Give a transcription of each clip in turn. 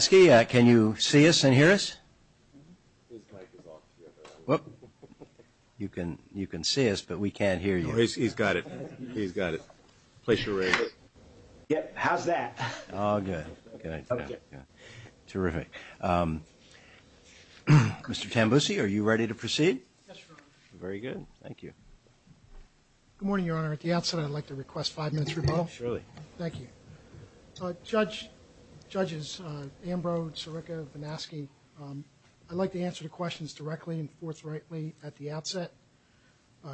Can you see us and hear us? What? You can you can see us, but we can't hear you. He's got it. He's got it. Place your razor. Yep, how's that? Terrific Mr. Tambusi, are you ready to proceed? Very good. Thank you Good morning, Your Honor. At the outset, I'd like to request five minutes rebuttal. Thank you Judge Judges, Ambrose, Sirica, Vanaski, I'd like to answer the questions directly and forthrightly at the outset.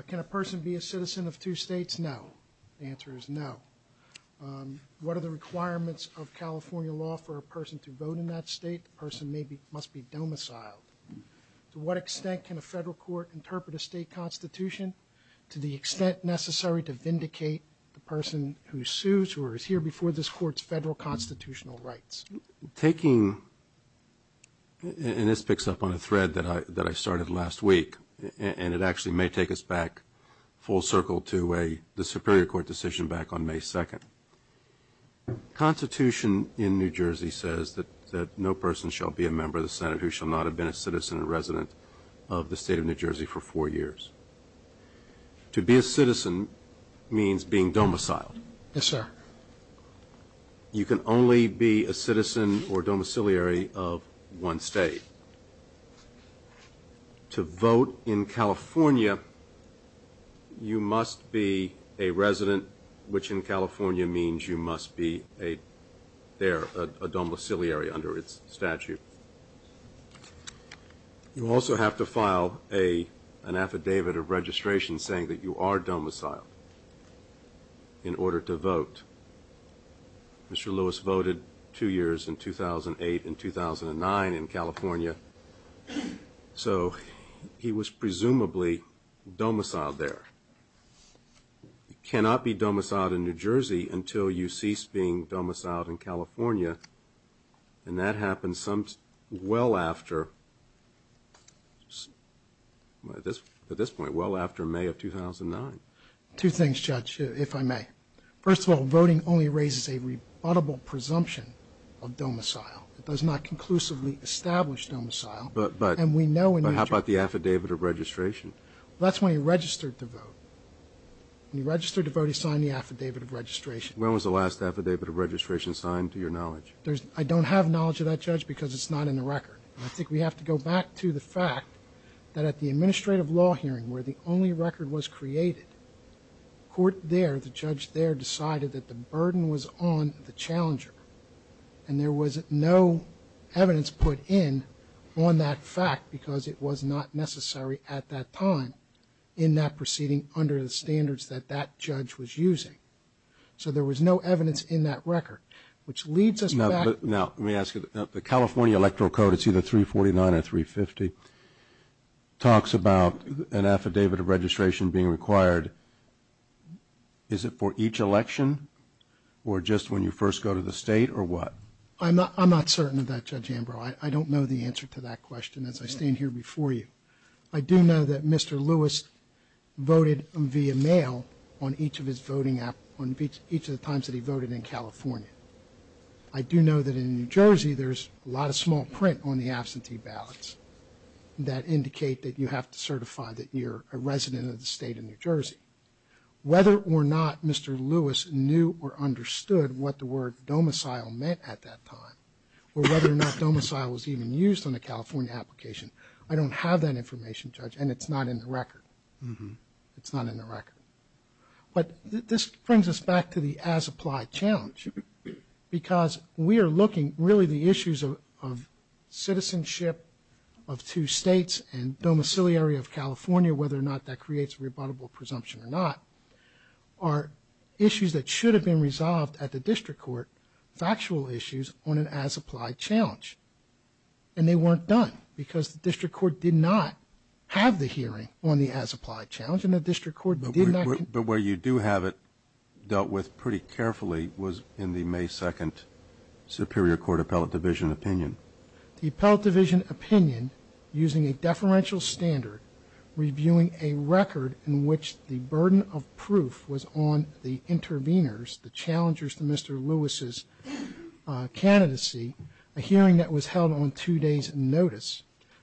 Can a person be a citizen of two states? No. The answer is no. What are the requirements of California law for a person to vote in that state? The person may be, must be domiciled. To what extent can a federal court interpret a state constitution? To the extent necessary to vindicate the person who sues or is here before this court's federal constitutional rights. Taking And this picks up on a thread that I that I started last week, and it actually may take us back full circle to a the Superior Court decision back on May 2nd. Constitution in New Jersey says that no person shall be a member of the Senate who shall not have been a citizen and resident of the state of New Jersey for four years. To be a citizen means being domiciled. Yes, sir. You can only be a citizen or domiciliary of one state. To vote in California, you must be a resident, which in California means you must be a there, a domiciliary under its statute. You also have to file a an affidavit of registration saying that you are domiciled in order to vote. Mr. Lewis voted two years in 2008 and 2009 in California, so he was presumably domiciled there. You cannot be domiciled in New Jersey until you cease being domiciled in California, and that happens some well after, at this point, well after May of 2009. Two things, Judge, if I may. First of all, voting only raises a rebuttable presumption of domicile. It does not conclusively establish domicile. But how about the affidavit of registration? That's when he registered to vote. When he registered to vote, he signed the affidavit of registration. When was the last affidavit of registration signed, to your knowledge? There's, I don't have knowledge of that, Judge, because it's not in the record. I think we have to go back to the fact that at the administrative law hearing, where the only record was created, court there, the judge there, decided that the burden was on the challenger, and there was no evidence put in on that fact, because it was not necessary at that time in that proceeding under the standards that that judge was using. So there was no evidence in that record, which leads us back. Now, let me ask you, the California Electoral Code, it's either 349 or 350, talks about an affidavit of registration being required. Is it for each election, or just when you first go to the state, or what? I'm not, I'm not certain of that, Judge Ambrose. I don't know the answer to that question, as I stand here before you. I do know that Mr. Lewis voted via mail on each of his voting, on each of the times that he voted in California. I do know that in New Jersey, there's a lot of small print on the absentee ballots that indicate that you have to certify that you're a resident of the state of New Jersey. Whether or not Mr. Lewis knew or understood what the word domicile meant at that time, or whether or not domicile was even used on a California application, I don't have that information, Judge, and it's not in the record. It's not in the record. But this brings us back to the as-applied challenge, because we are looking, really, the issues of are issues that should have been resolved at the district court, factual issues, on an as-applied challenge, and they weren't done, because the district court did not have the hearing on the as-applied challenge, and the district court did not... But where you do have it dealt with pretty carefully was in the May 2nd Superior Court Appellate Division opinion. The Appellate Division opinion, using a deferential standard, reviewing a record in which the burden of proof was on the interveners, the challengers to Mr. Lewis's candidacy, a hearing that was held on two days notice.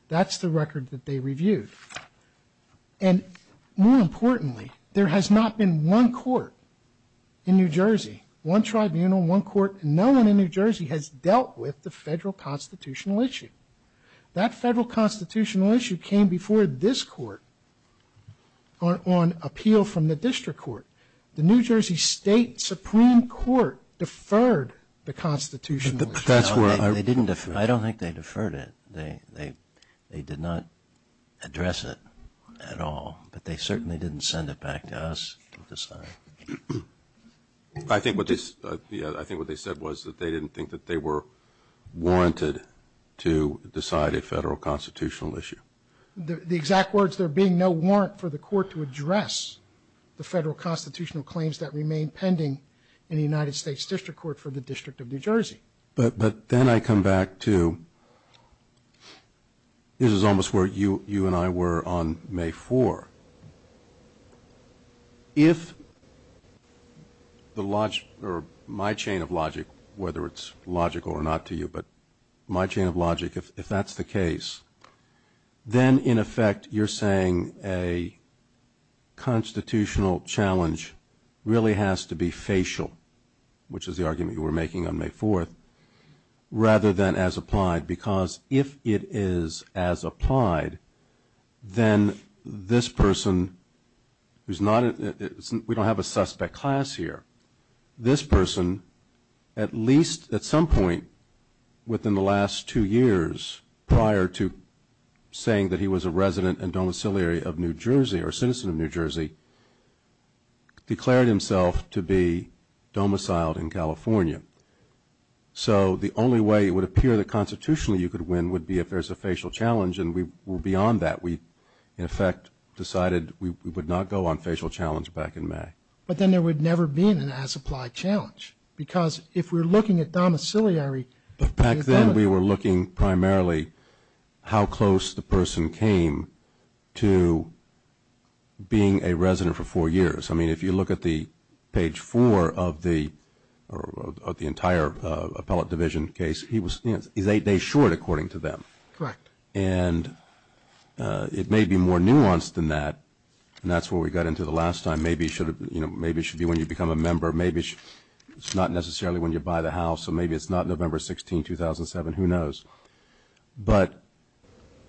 That's the record that they reviewed. And more importantly, there has not been one court in New Jersey, one tribunal, one court, no one in New Jersey has dealt with the federal constitutional issue. That federal constitutional issue came before this court on appeal from the district court. The New Jersey State Supreme Court deferred the constitutional issue. That's where... They didn't defer. I don't think they deferred it. They did not address it at all, but they certainly didn't send it back to us to decide. I think what this, yeah, I think what they said was that they didn't think that they were warranted to decide a federal constitutional issue. The exact words, there being no warrant for the court to address the federal constitutional claims that remain pending in the United States District Court for the District of New Jersey. But, but then I come back to this is almost where you, you and I were on May 4. If the logic, or my chain of logic, whether it's logical or not to you, but my chain of logic, if that's the case, then in effect, you're saying a constitutional challenge really has to be facial, which is the argument you were making on May 4th, rather than as applied. Because if it is as applied, then this person who's not, we don't have a suspect class here, this person, at least at some point within the last two years prior to saying that he was a resident and domiciliary of New Jersey, or citizen of New Jersey, declared himself to be domiciled in California. So the only way it would appear that constitutionally you could win would be if there's a facial challenge, and we were beyond that. We, in effect, decided we would not go on facial challenge back in May. But then there would never be an as-applied challenge, because if we're looking at domiciliary... Back then, we were looking primarily how close the person came to being a resident for four years. I mean, if you look at the page four of the entire appellate division case, he was eight days short, according to them. Correct. And it may be more nuanced than that, and that's where we got into the last time. Maybe it should have been, you know, maybe it should be when you become a member. Maybe it's not necessarily when you buy the house, so maybe it's not November 16, 2007. Who knows? But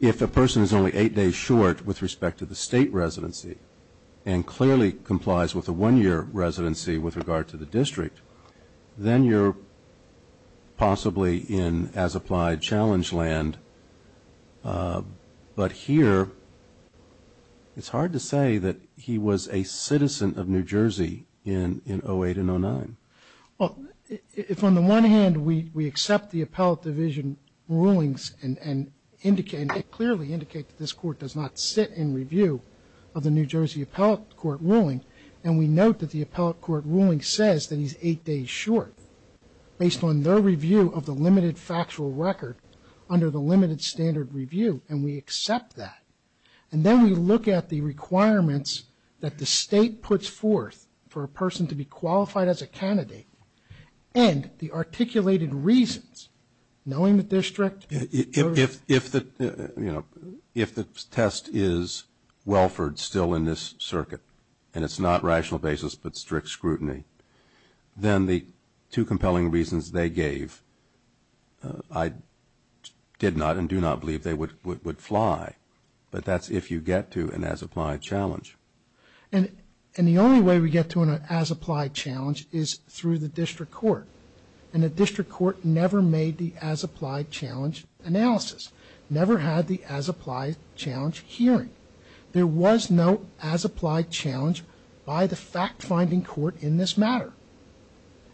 if a person is only eight days short with respect to the state residency, and clearly complies with a one-year residency with regard to the district, then you're possibly in as-applied challenge land but here it's hard to say that he was a citizen of New Jersey in in 08 and 09. Well, if on the one hand we accept the appellate division rulings and indicate, clearly indicate that this court does not sit in review of the New Jersey Appellate Court ruling, and we note that the Appellate Court ruling says that he's eight days short based on their review of the limited factual record under the limited standard review, and we accept that. And then we look at the requirements that the state puts forth for a person to be qualified as a candidate, and the articulated reasons, knowing the district... If the, you know, if the test is Welford still in this circuit, and it's not rational basis, but strict scrutiny, then the two compelling reasons they gave... I did not and do not believe they would would fly, but that's if you get to an as-applied challenge. And the only way we get to an as-applied challenge is through the district court, and the district court never made the as-applied challenge analysis, never had the as-applied challenge hearing. There was no as-applied challenge by the fact-finding court in this matter,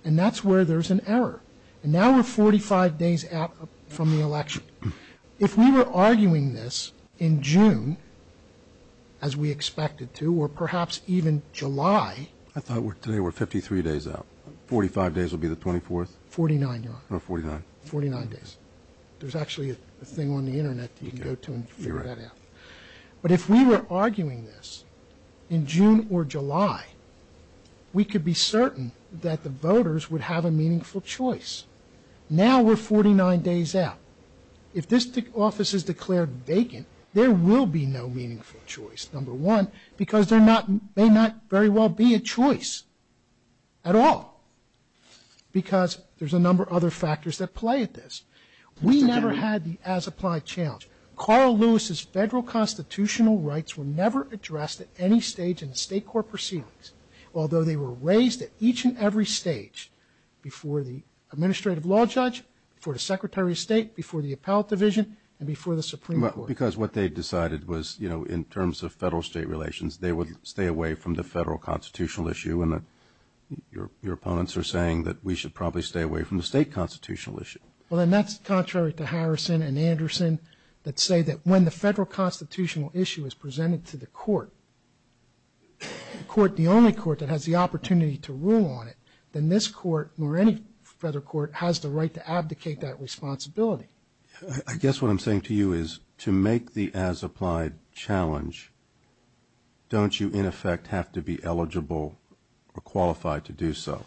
and that's where there's an error. And now we're 45 days out from the election. If we were arguing this in June, as we expected to, or perhaps even July... I thought we're today, we're 53 days out. 45 days will be the 24th? 49, Your Honor. Oh, 49. 49 days. There's actually a thing on the internet you can go to and figure that out. But if we were arguing this in June or July, we could be certain that the voters would have a meaningful choice. Now we're 49 days out. If this office is declared vacant, there will be no meaningful choice, number one, because they're not, may not very well be a choice at all. Because there's a number of other factors that play at this. We never had the as-applied challenge. Carl Lewis's federal constitutional rights were never addressed at any stage in state court proceedings, although they were raised at each and every stage before the Administrative Law Judge, before the Secretary of State, before the Appellate Division, and before the Supreme Court. Well, because what they decided was, you know, in terms of federal-state relations, they would stay away from the federal constitutional issue, and your opponents are saying that we should probably stay away from the state constitutional issue. Well, then that's contrary to Harrison and Anderson that say that when the federal constitutional issue is presented to the court, the court, the only court that has the opportunity to rule on it, then this court, or any federal court, has the right to abdicate that responsibility. I guess what I'm saying to you is, to make the as-applied challenge, don't you, in effect, have to be eligible or qualified to do so?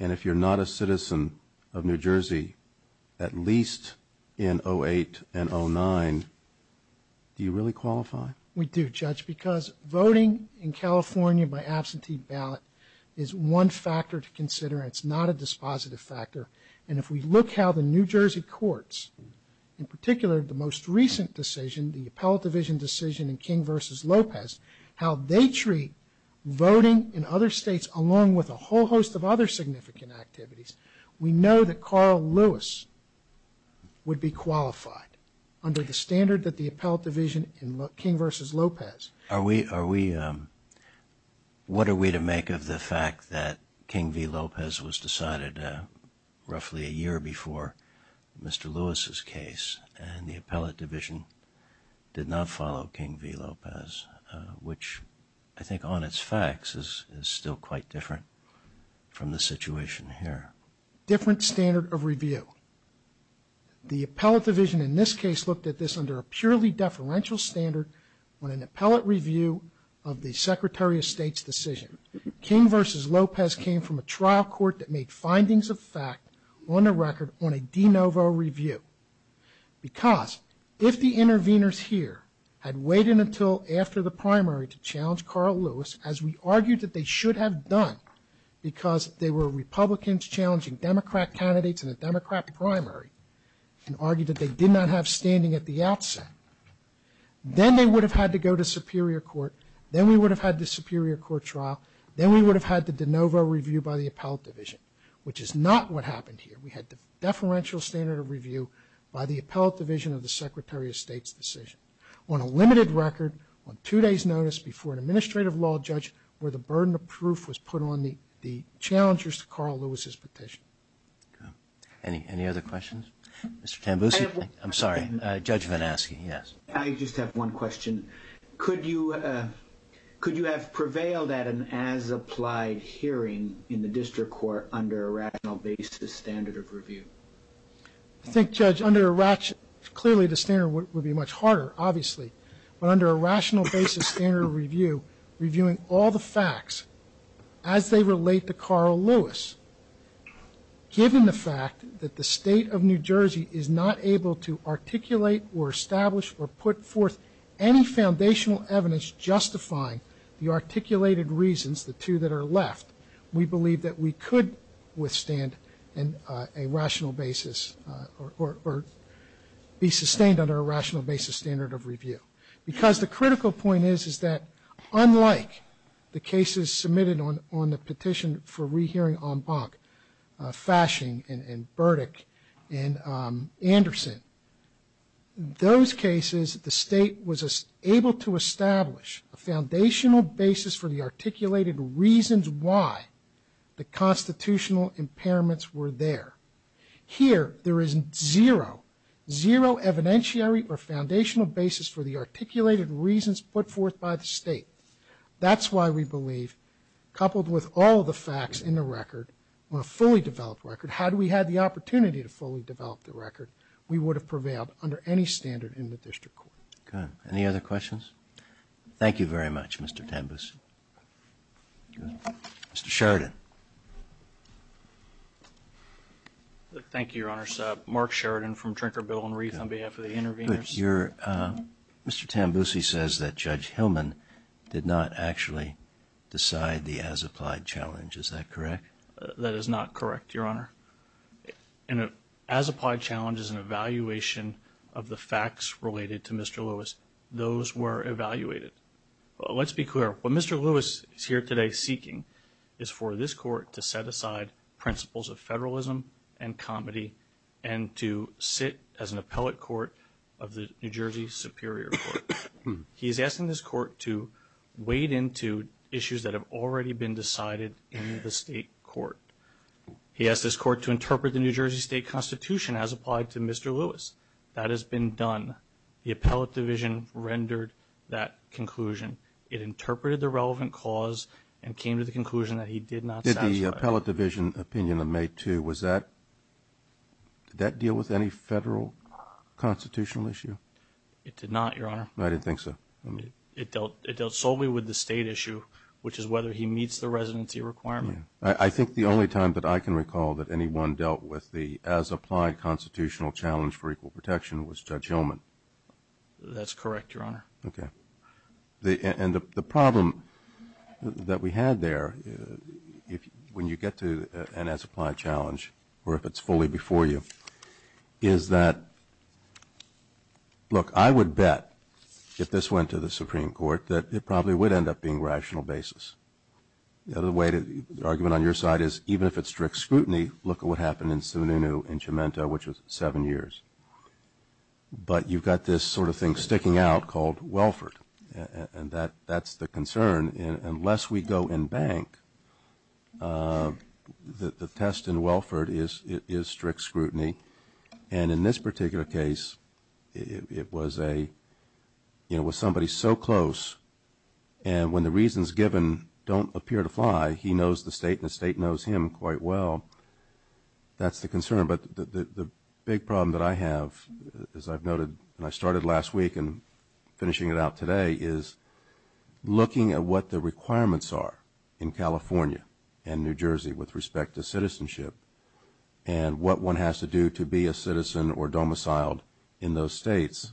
And if you're not a citizen of New Jersey, at least in 08 and 09, do you really qualify? We do, Judge, because voting in California by absentee ballot is one factor to consider, and it's not a dispositive factor. And if we look how the New Jersey courts, in particular, the most recent decision, the Appellate Division decision in King v. Lopez, how they treat voting in other states, along with a whole host of other significant activities, we know that Carl Lewis would be qualified, under the standard that the Appellate Division in King v. Lopez. What are we to make of the fact that King v. Lopez was decided roughly a year before Mr. Lewis's case, and the Appellate Division did not follow King v. Lopez, which, I think on its facts, is still quite different from the situation here. Different standard of review. The Appellate Division, in this case, looked at this under a purely deferential standard on an appellate review of the Secretary of State's decision. King v. Lopez came from a trial court that made findings of fact on the record on a de novo review. Because if the interveners here had waited until after the primary to challenge Carl Lewis, as we argued that they should have done, because they were Republicans challenging Democrat candidates in a Democrat primary, and argued that they did not have standing at the outset, then they would have had to go to Superior Court, then we would have had the Superior Court trial, then we would have had the de novo review by the Appellate Division, which is not what happened here. We had the deferential standard of review by the Appellate Division of the Secretary of State's decision, on a limited record, on two days notice before an administrative law judge, where the burden of proof was put on the challengers to Carl Lewis's petition. Any other questions? Mr. Tambusi, I'm sorry, Judge Van Aske, yes. I just have one question. Could you Could you have prevailed at an as-applied hearing in the district court under a rational basis standard of review? I think, Judge, under a rational, clearly the standard would be much harder, obviously, but under a rational basis standard review, reviewing all the facts as they relate to Carl Lewis, given the fact that the state of New Jersey is not able to articulate or establish or put forth any foundational evidence justifying the articulated reasons, the two that are left, we believe that we could withstand a rational basis or be sustained under a rational basis standard of review. Because the critical point is, is that unlike the cases submitted on the petition for rehearing Ambach, Fashing, and Burdick, and Anderson, those cases, the state was able to establish a foundational basis for the articulated reasons why the constitutional impairments were there. Here, there is zero, zero evidentiary or foundational basis for the articulated reasons put forth by the state. That's why we believe, coupled with all the facts in the record, on a fully developed record, had we had the opportunity to fully develop the record, we would have prevailed under any standard in the district court. Good. Any other questions? Thank you very much, Mr. Tambusi. Mr. Sheridan. Thank you, Your Honor. Mark Sheridan from Trinker, Bill & Ruth on behalf of the interveners. Your, Mr. Tambusi says that Judge Hillman did not actually decide the as-applied challenge. Is that correct? That is not correct, Your Honor. An as-applied challenge is an evaluation of the facts related to Mr. Lewis. Those were evaluated. Let's be clear. What Mr. Lewis is here today seeking is for this court to set aside principles of federalism and comedy and to sit as an appellate court of the New Jersey Superior Court. He is asking this court to wade into issues that have already been decided in the state court. He asked this court to interpret the New Jersey State Constitution as applied to Mr. Lewis. That has been done. The appellate division rendered that conclusion. It interpreted the relevant cause and came to the conclusion that he did not satisfy it. Did the appellate division opinion of May 2, was that, did that deal with any federal constitutional issue? It did not, Your Honor. I didn't think so. It dealt solely with the state issue, which is whether he meets the residency requirement. I think the only time that I can recall that anyone dealt with the as-applied constitutional challenge for equal protection was Judge Hillman. That's correct, Your Honor. Okay. The, and the problem that we had there, if, when you get to an as-applied challenge, or if it's fully before you, is that, look, I would bet if this went to the Supreme Court that it probably would end up being rational basis. The other way to, the argument on your side is, even if it's strict scrutiny, look at what happened in Sununu in Jumento, which was seven years. But you've got this sort of thing sticking out called Welford, and that, that's the concern. Unless we go in bank, the test in Welford is, is strict scrutiny. And in this particular case, it was a, you know, with somebody so close, and when the reasons given don't appear to fly, he knows the state, and the state knows him quite well. That's the concern. But the, the big problem that I have, as I've noted, and I started last week and finishing it out today, is looking at what the requirements are in California and New Jersey with respect to citizenship, and what one has to do to be a citizen or domiciled in those states.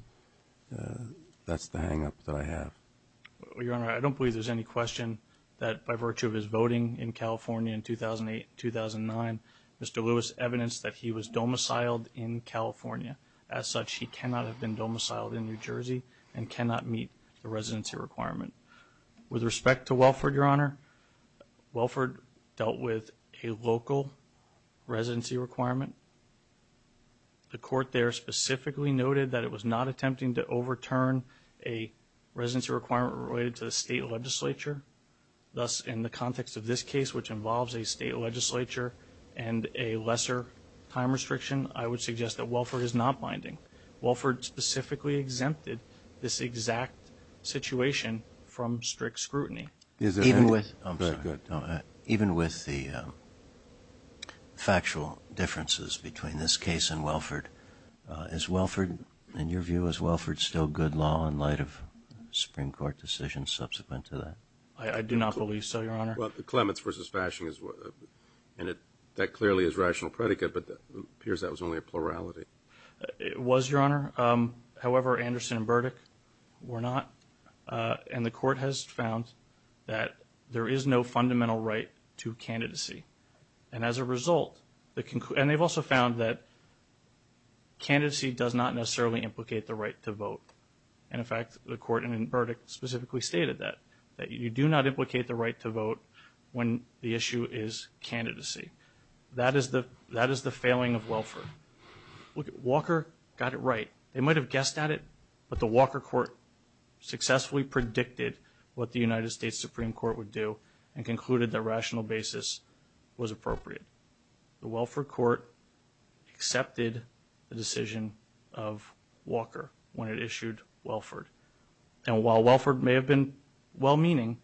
That's the hang-up that I have. Your Honor, I don't believe there's any question that, by virtue of his voting in California in 2008-2009, Mr. Lewis evidenced that he was domiciled in California. As such, he cannot have been domiciled in New Jersey, and cannot meet the residency requirement. With respect to Welford, Your Honor, Welford dealt with a local residency requirement. The court there specifically noted that it was not attempting to overturn a requirement related to the state legislature. Thus, in the context of this case, which involves a state legislature and a lesser time restriction, I would suggest that Welford is not binding. Welford specifically exempted this exact situation from strict scrutiny. Even with... Even with the factual differences between this case and Welford, is Welford, in your view, is Welford still good law in light of the Supreme Court decision subsequent to that? I do not believe so, Your Honor. Well, the Clements v. Fashing is what... and it... that clearly is rational predicate, but it appears that was only a plurality. It was, Your Honor. However, Anderson and Burdick were not. And the court has found that there is no fundamental right to candidacy. And as a result, the concl... And they've also found that there is no right to vote. And in fact, the court in Burdick specifically stated that, that you do not implicate the right to vote when the issue is candidacy. That is the... that is the failing of Welford. Look, Walker got it right. They might have guessed at it, but the Walker court successfully predicted what the United States Supreme Court would do and concluded that rational basis was appropriate. The Welford court accepted the decision of when it issued Welford. And while Welford may have been well-meaning,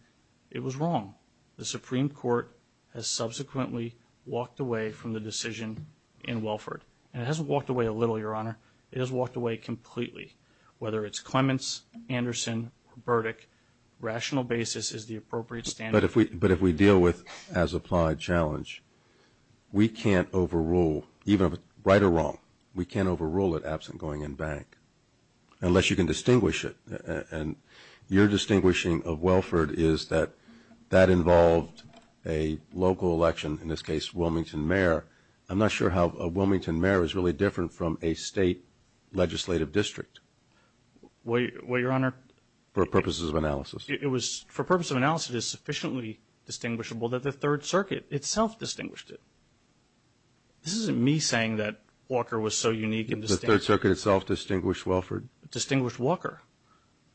it was wrong. The Supreme Court has subsequently walked away from the decision in Welford. And it hasn't walked away a little, Your Honor. It has walked away completely. Whether it's Clements, Anderson, or Burdick, rational basis is the appropriate standard. But if we... but if we deal with as-applied challenge, we can't overrule, even if... right or wrong, we can't overrule it absent going in bank. Unless you can distinguish it. And your distinguishing of Welford is that that involved a local election, in this case, Wilmington mayor. I'm not sure how a Wilmington mayor is really different from a state legislative district. Well, Your Honor... For purposes of analysis. It was... for purpose of analysis, it is sufficiently distinguishable that the Third Circuit itself distinguished it. This isn't me saying that Walker was so unique in this... The Third Circuit itself distinguished Welford? Distinguished Walker.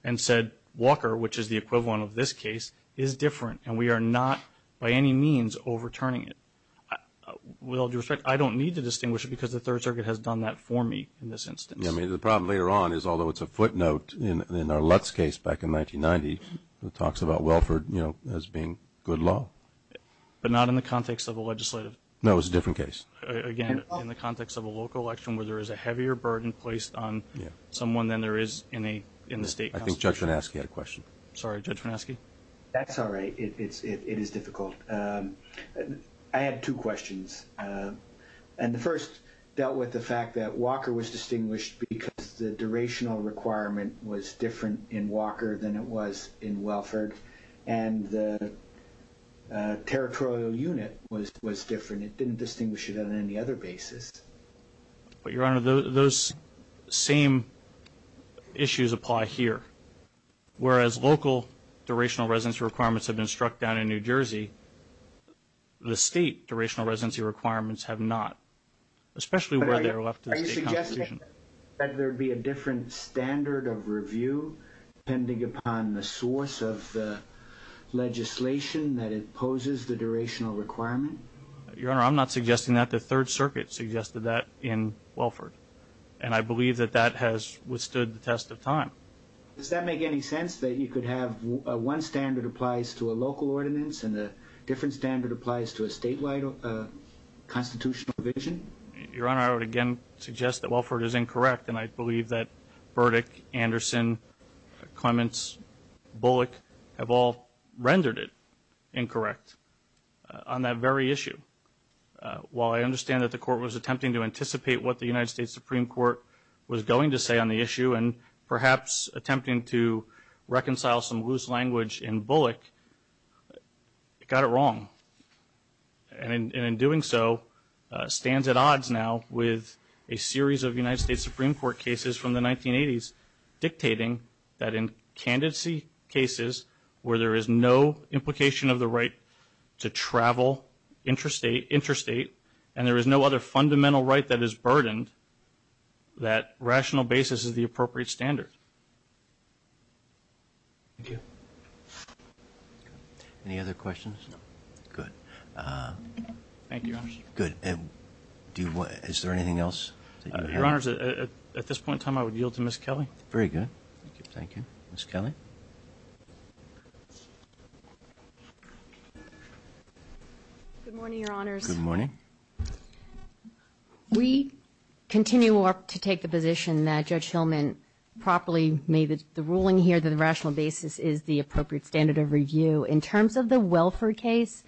And said, Walker, which is the equivalent of this case, is different. And we are not, by any means, overturning it. With all due respect, I don't need to distinguish it because the Third Circuit has done that for me in this instance. I mean, the problem later on is, although it's a footnote in our Lutz case back in 1990 that talks about Welford, you know, as being good law. But not in the context of a legislative... No, it's a different case. Again, in the context of a local election where there is a heavier burden placed on someone than there is in a... in the state... I think Judge Fineschi had a question. Sorry, Judge Fineschi? That's all right. It's... it is difficult. I had two questions. And the first dealt with the fact that Walker was distinguished because the durational requirement was different in Walker than it was in Welford. And the... territorial unit was... was different. It didn't distinguish it on any other basis. But, Your Honor, those same issues apply here. Whereas local durational residency requirements have been struck down in New Jersey, the state durational residency requirements have not. Especially where they're left in the state constitution. Are you suggesting that there would be a different standard of review depending upon the source of the legislation that imposes the durational requirement? Your Honor, I'm not suggesting that. The Third Circuit suggested that in Welford. And I believe that that has withstood the test of time. Does that make any sense that you could have one standard applies to a local ordinance and a different standard applies to a statewide constitutional revision? Your Honor, I would again suggest that Welford is incorrect. And I believe that Burdick, Anderson, Clements, Bullock have all rendered it incorrect on that very issue. While I understand that the court was attempting to anticipate what the United States Supreme Court was going to say on the issue and perhaps attempting to reconcile some loose language in Bullock, it got it wrong. And in doing so stands at odds now with a series of United States Supreme Court cases from the 1980s dictating that in candidacy cases where there is no implication of the right to travel interstate, and there is no other fundamental right that is burdened, that rational basis is the appropriate standard. Thank you. Any other questions? No. Good. Thank you, Your Honor. Good. Is there anything else? Your Honor, at this point in time, I would yield to Ms. Kelley. Very good. Thank you. Ms. Kelley. Good morning, Your Honors. Good morning. We continue to take the position that Judge Hillman properly made the ruling here that the rational basis is the appropriate standard of review. In terms of the Welford case,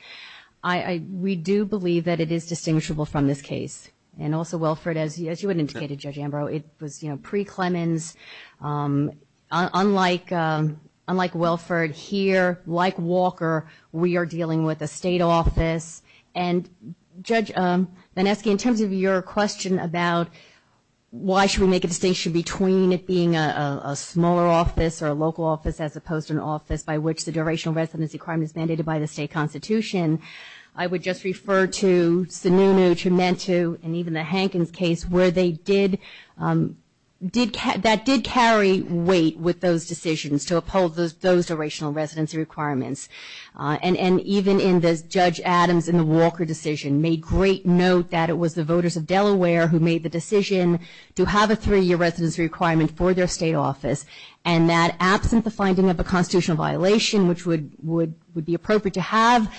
we do believe that it is distinguishable from this case. And also, Welford, as you had indicated, Judge Ambrose, it was, you know, pre-Clemens. Unlike Welford here, like Walker, we are dealing with a state office. And Judge Vanesky, in terms of your question about why should we make a distinction between it being a local office as opposed to an office by which the durational residency requirement is mandated by the state constitution, I would just refer to Sununu, Trementu, and even the Hankins case where they did did, that did carry weight with those decisions to uphold those durational residency requirements. And even in this, Judge Adams, in the Walker decision, made great note that it was the voters of Delaware who made the decision to have a three-year residency requirement for their state office, and that absent the finding of a constitutional violation, which would be appropriate to have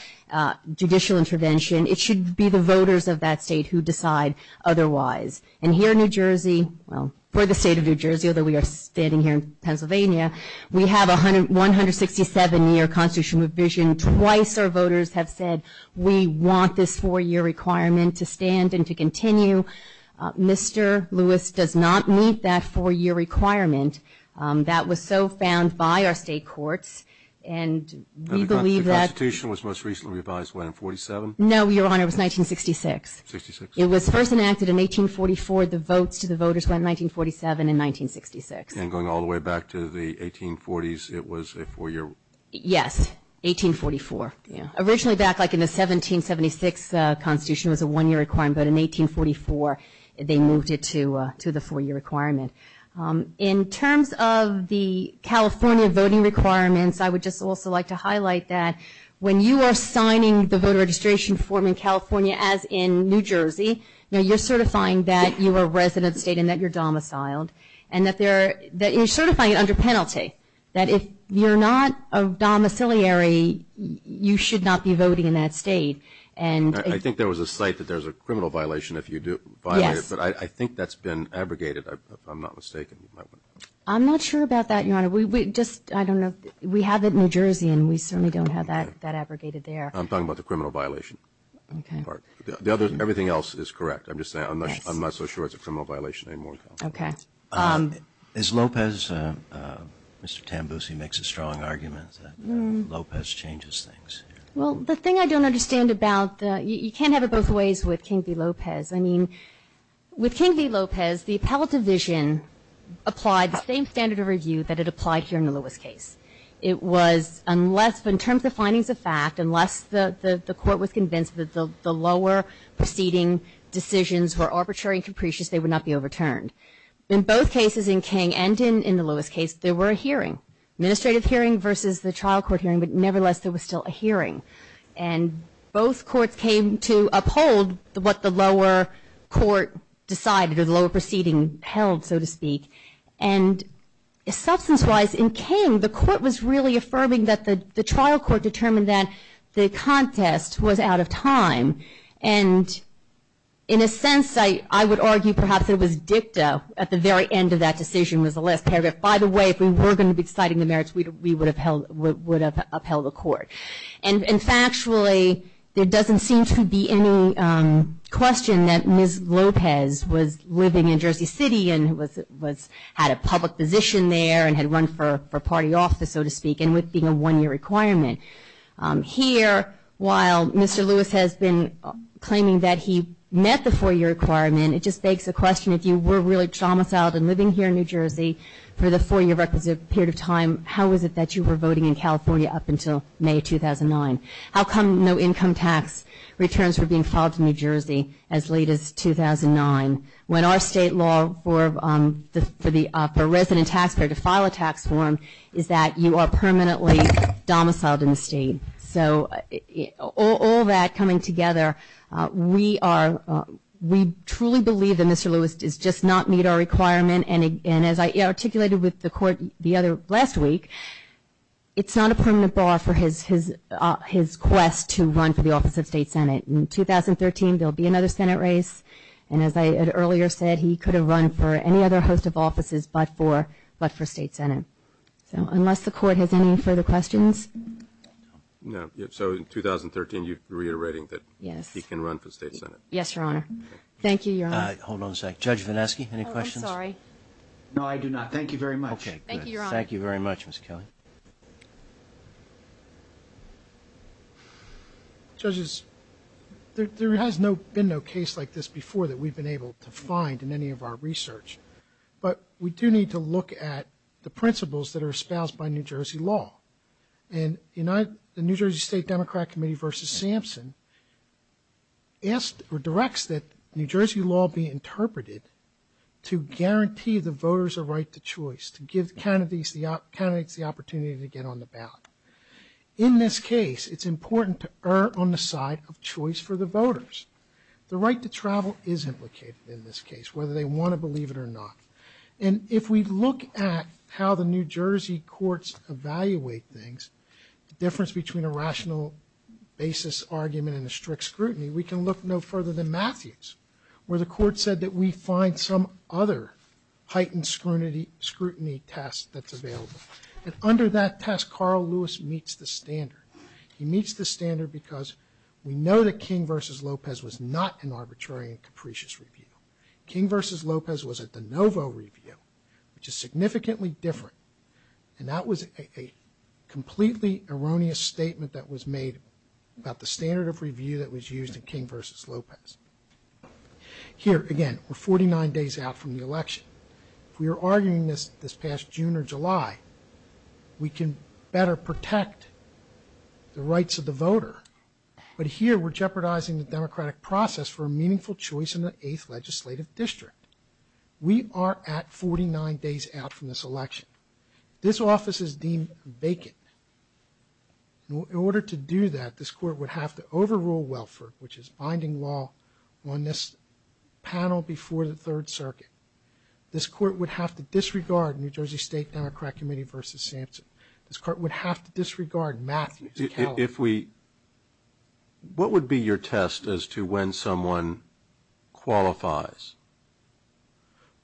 judicial intervention, it should be the voters of that state who decide otherwise. And here in New Jersey, well, for the state of New Jersey, although we are standing here in Pennsylvania, we have a 167-year constitutional provision. Twice our voters have said we want this four-year requirement to stand and to continue. Mr. Lewis does not meet that four-year requirement. That was so found by our state courts, and we believe that... The constitution was most recently revised when, in 47? No, Your Honor, it was 1966. It was first enacted in 1844. The votes to the voters went in 1947 and 1966. And going all the way back to the 1840s, it was a four-year... Yes, 1844. Yeah. Originally back like in the 1776 constitution was a one-year requirement, but in 1844 they moved it to to the four-year requirement. In terms of the California voting requirements, I would just also like to highlight that when you are signing the voter registration form in California, as in New Jersey, you know, you're certifying that you are resident state and that you're domiciled, and that they're... that you're certifying it under penalty. That if you're not a domiciliary, you should not be voting in that state, and... I think there was a site that there's a criminal violation if you do violate it, but I think that's been abrogated, if I'm not mistaken. I'm not sure about that, Your Honor. We just... I don't know. We have it in New Jersey, and we certainly don't have that that abrogated there. I'm talking about the criminal violation. Okay. The other... everything else is correct. I'm just saying I'm not so sure it's a criminal violation anymore. Okay. Is Lopez... changes things? Well, the thing I don't understand about... you can't have it both ways with King v. Lopez. I mean, with King v. Lopez, the appellate division applied the same standard of review that it applied here in the Lewis case. It was, unless... in terms of findings of fact, unless the... the court was convinced that the lower proceeding decisions were arbitrary and capricious, they would not be overturned. In both cases, in King and in the Lewis case, there were a hearing, administrative hearing versus the trial court hearing, but nevertheless, there was still a hearing, and both courts came to uphold what the lower court decided, or the lower proceeding held, so to speak, and substance-wise, in King, the court was really affirming that the... the trial court determined that the contest was out of time, and in a sense, I... I would argue perhaps it was dicta at the very end of that decision, was the last paragraph, by the way, if we were going to be deciding the merits, we would have held... would have upheld the court, and factually, there doesn't seem to be any question that Ms. Lopez was living in Jersey City and was... was... had a public position there and had run for... for party office, so to speak, and with being a one-year requirement. Here, while Mr. Lewis has been claiming that he met the four-year requirement, it just begs the question, if you were really domiciled and living here in New Jersey for the four-year requisite period of time, how is it that you were voting in California up until May 2009? How come no income tax returns were being filed to New Jersey as late as 2009, when our state law for the... for the... for a resident taxpayer to file a tax form is that you are permanently domiciled in the state, so all that coming together, we are... we truly believe that Mr. Lewis does just not meet our requirement, and... and as I articulated with the court the other... last week, it's not a permanent bar for his... his... his quest to run for the office of State Senate. In 2013, there'll be another Senate race, and as I had earlier said, he could have run for any other host of offices, but for... but for State Senate, so unless the court has any further questions. No, so in 2013, you're reiterating that... Yes. He can run for State Senate. Yes, Your Honor. Thank you, Your Honor. Hold on a sec. Judge Vanesky, any questions? No, I do not. Thank you very much. Thank you very much, Mr. Kelly. Judges, there has no... been no case like this before that we've been able to find in any of our research, but we do need to look at the principles that are espoused by New Jersey law, and United... the New Jersey State Democrat Committee versus Sampson asked... or directs that New Jersey law be interpreted to guarantee the voters a right to choice, to give the candidates the... candidates the opportunity to get on the ballot. In this case, it's important to err on the side of choice for the voters. The right to travel is implicated in this case, whether they want to believe it or not, and if we look at how the New Jersey State Democrat Committee evaluates things, the difference between a rational basis argument and a strict scrutiny, we can look no further than Matthews, where the court said that we find some other heightened scrutiny... scrutiny test that's available, and under that test, Carl Lewis meets the standard. He meets the standard because we know that King v. Lopez was not an arbitrary and capricious review. King v. Lopez was a de novo review, which is significantly different, and that was a completely erroneous statement that was made about the standard of review that was used in King v. Lopez. Here, again, we're 49 days out from the election. If we were arguing this this past June or July, we can better protect the rights of the voter, but here we're jeopardizing the democratic process for a meaningful choice in the 8th legislative district. We are at 49 days out from this election. This office is deemed vacant. In order to do that, this court would have to overrule Welford, which is binding law on this panel before the Third Circuit. This court would have to disregard New Jersey State Democrat Committee v. Sampson. This court would have to disregard Matthews, Carroll. What would be your test as to when someone qualifies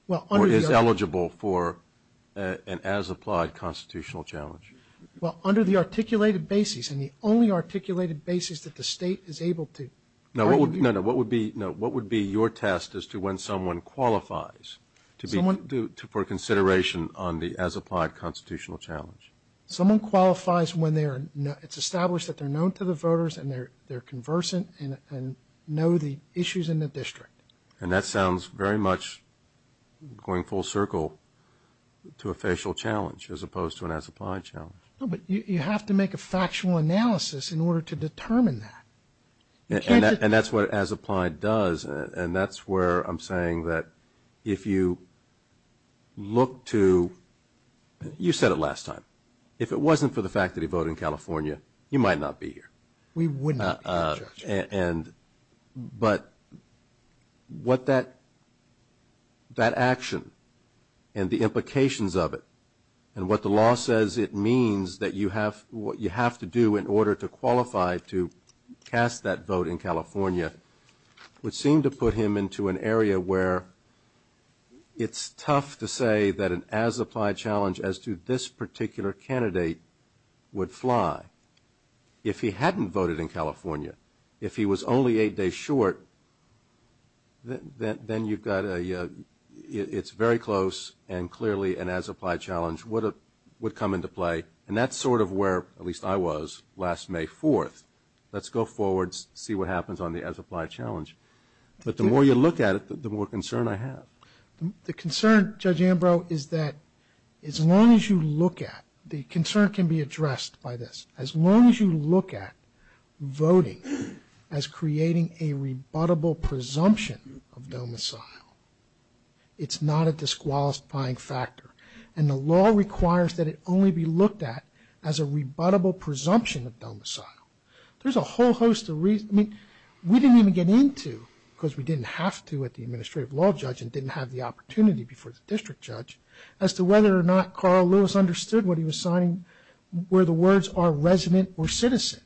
or is eligible for an as-applied constitutional challenge? Well, under the articulated basis, and the only articulated basis that the state is able to... No, what would be your test as to when someone qualifies for consideration on the as-applied constitutional challenge? Someone qualifies when it's established that they're known to the voters and they're conversant and know the issues in the district. And that sounds very much going full circle to a facial challenge as opposed to an as-applied challenge. No, but you have to make a factual analysis in order to determine that. And that's what as-applied does and that's where I'm saying that if you look to... You said it last time. If it wasn't for the fact that he voted in California, you might not be here. We wouldn't. And but what that that action and the implications of it and what the law says it means that you have what you have to do in order to qualify to cast that vote in California would seem to put him into an area where it's tough to say that an as-applied challenge as to this particular candidate would fly. If he hadn't voted in California, if he was only eight days short, then you've got a... It's very close and clearly an as-applied challenge would come into play and that's sort of where, at least I was, last May 4th. Let's go forward, see what happens on the as-applied challenge. But the more you look at it, the more concern I have. The concern, Judge Ambrose, is that as long as you look at, the concern can be addressed by this. As long as you look at voting as creating a rebuttable presumption of domicile, it's not a disqualifying factor and the law requires that it only be looked at as a rebuttable presumption of domicile. There's a whole host of reasons, I mean we didn't even get into, because we didn't have to at the Administrative Law Judge and didn't have the opportunity before the District Judge, as to whether or not Carl Lewis understood what he was signing, where the words are resident or citizen.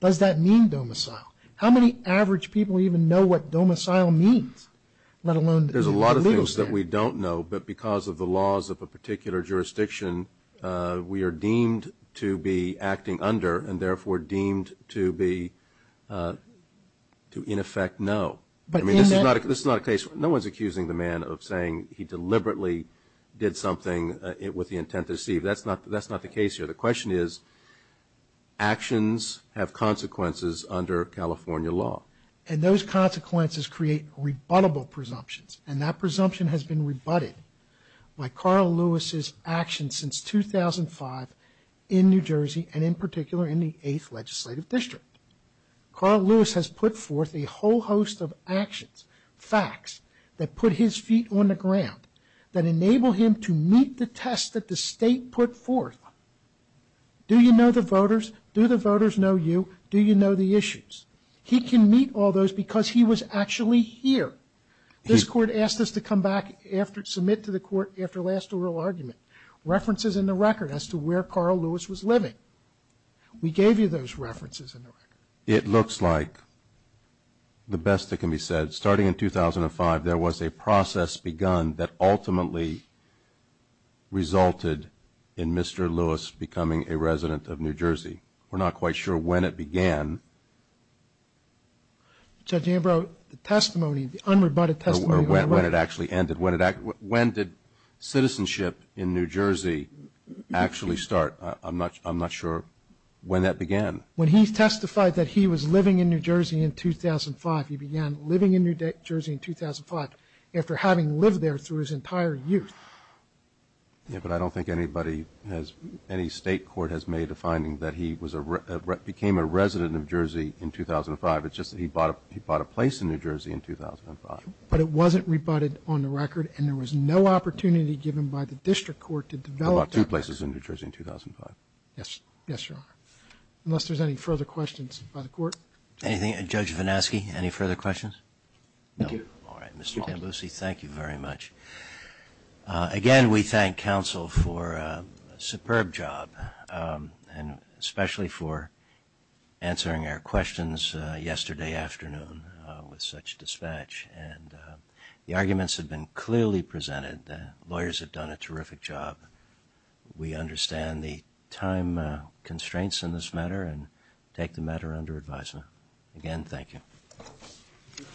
Does that mean domicile? How many average people even know what domicile means? Let alone... There's a lot of things that we don't know, but because of the laws of a particular jurisdiction, we are deemed to be acting under and therefore deemed to be to in effect know. I mean, this is not a case... No one's accusing the man of saying he deliberately did something with the intent to deceive. That's not the case here. The question is, actions have consequences under California law. And those consequences create rebuttable presumptions. And that presumption has been rebutted by Carl Lewis's actions since 2005 in New Jersey and in particular in the 8th Legislative District. Carl Lewis has put forth a whole host of actions, facts, that put his feet on the ground, that enable him to meet the test that the state put forth. Do you know the voters? Do the voters know you? Do you know the issues? He can meet all those because he was actually here. This Court asked us to come back after... submit to the Court after last oral argument references in the record as to where Carl Lewis was living. We gave you those references in the record. It looks like the best that can be said. Starting in 2005, there was a process begun that ultimately resulted in Mr. Lewis becoming a resident of New Jersey. We're not quite sure when it began. Judge Ambrose, the testimony, the unrebutted testimony... Or when it actually ended. When did citizenship in New Jersey actually start? I'm not sure when that began. When he testified that he was living in New Jersey in 2005, he began living in New Jersey in 2005 after having lived there through his entire youth. Yeah, but I don't think anybody has, any State court has made a finding that he was a, became a resident of Jersey in 2005. It's just that he bought a place in New Jersey in 2005. But it wasn't rebutted on the record and there was no opportunity given by the District Court to develop... He bought two places in New Jersey in 2005. Yes. Yes, Your Honor. Unless there's any further questions by the court. Anything, Judge Vanaski, any further questions? No. All right. Mr. Tambucci, thank you very much. Again, we thank counsel for a superb job. And especially for answering our questions yesterday afternoon with such dispatch. And the arguments have been clearly presented. Lawyers have done a terrific job. We understand the time constraints in this matter and take the matter under advisement. Again, thank you.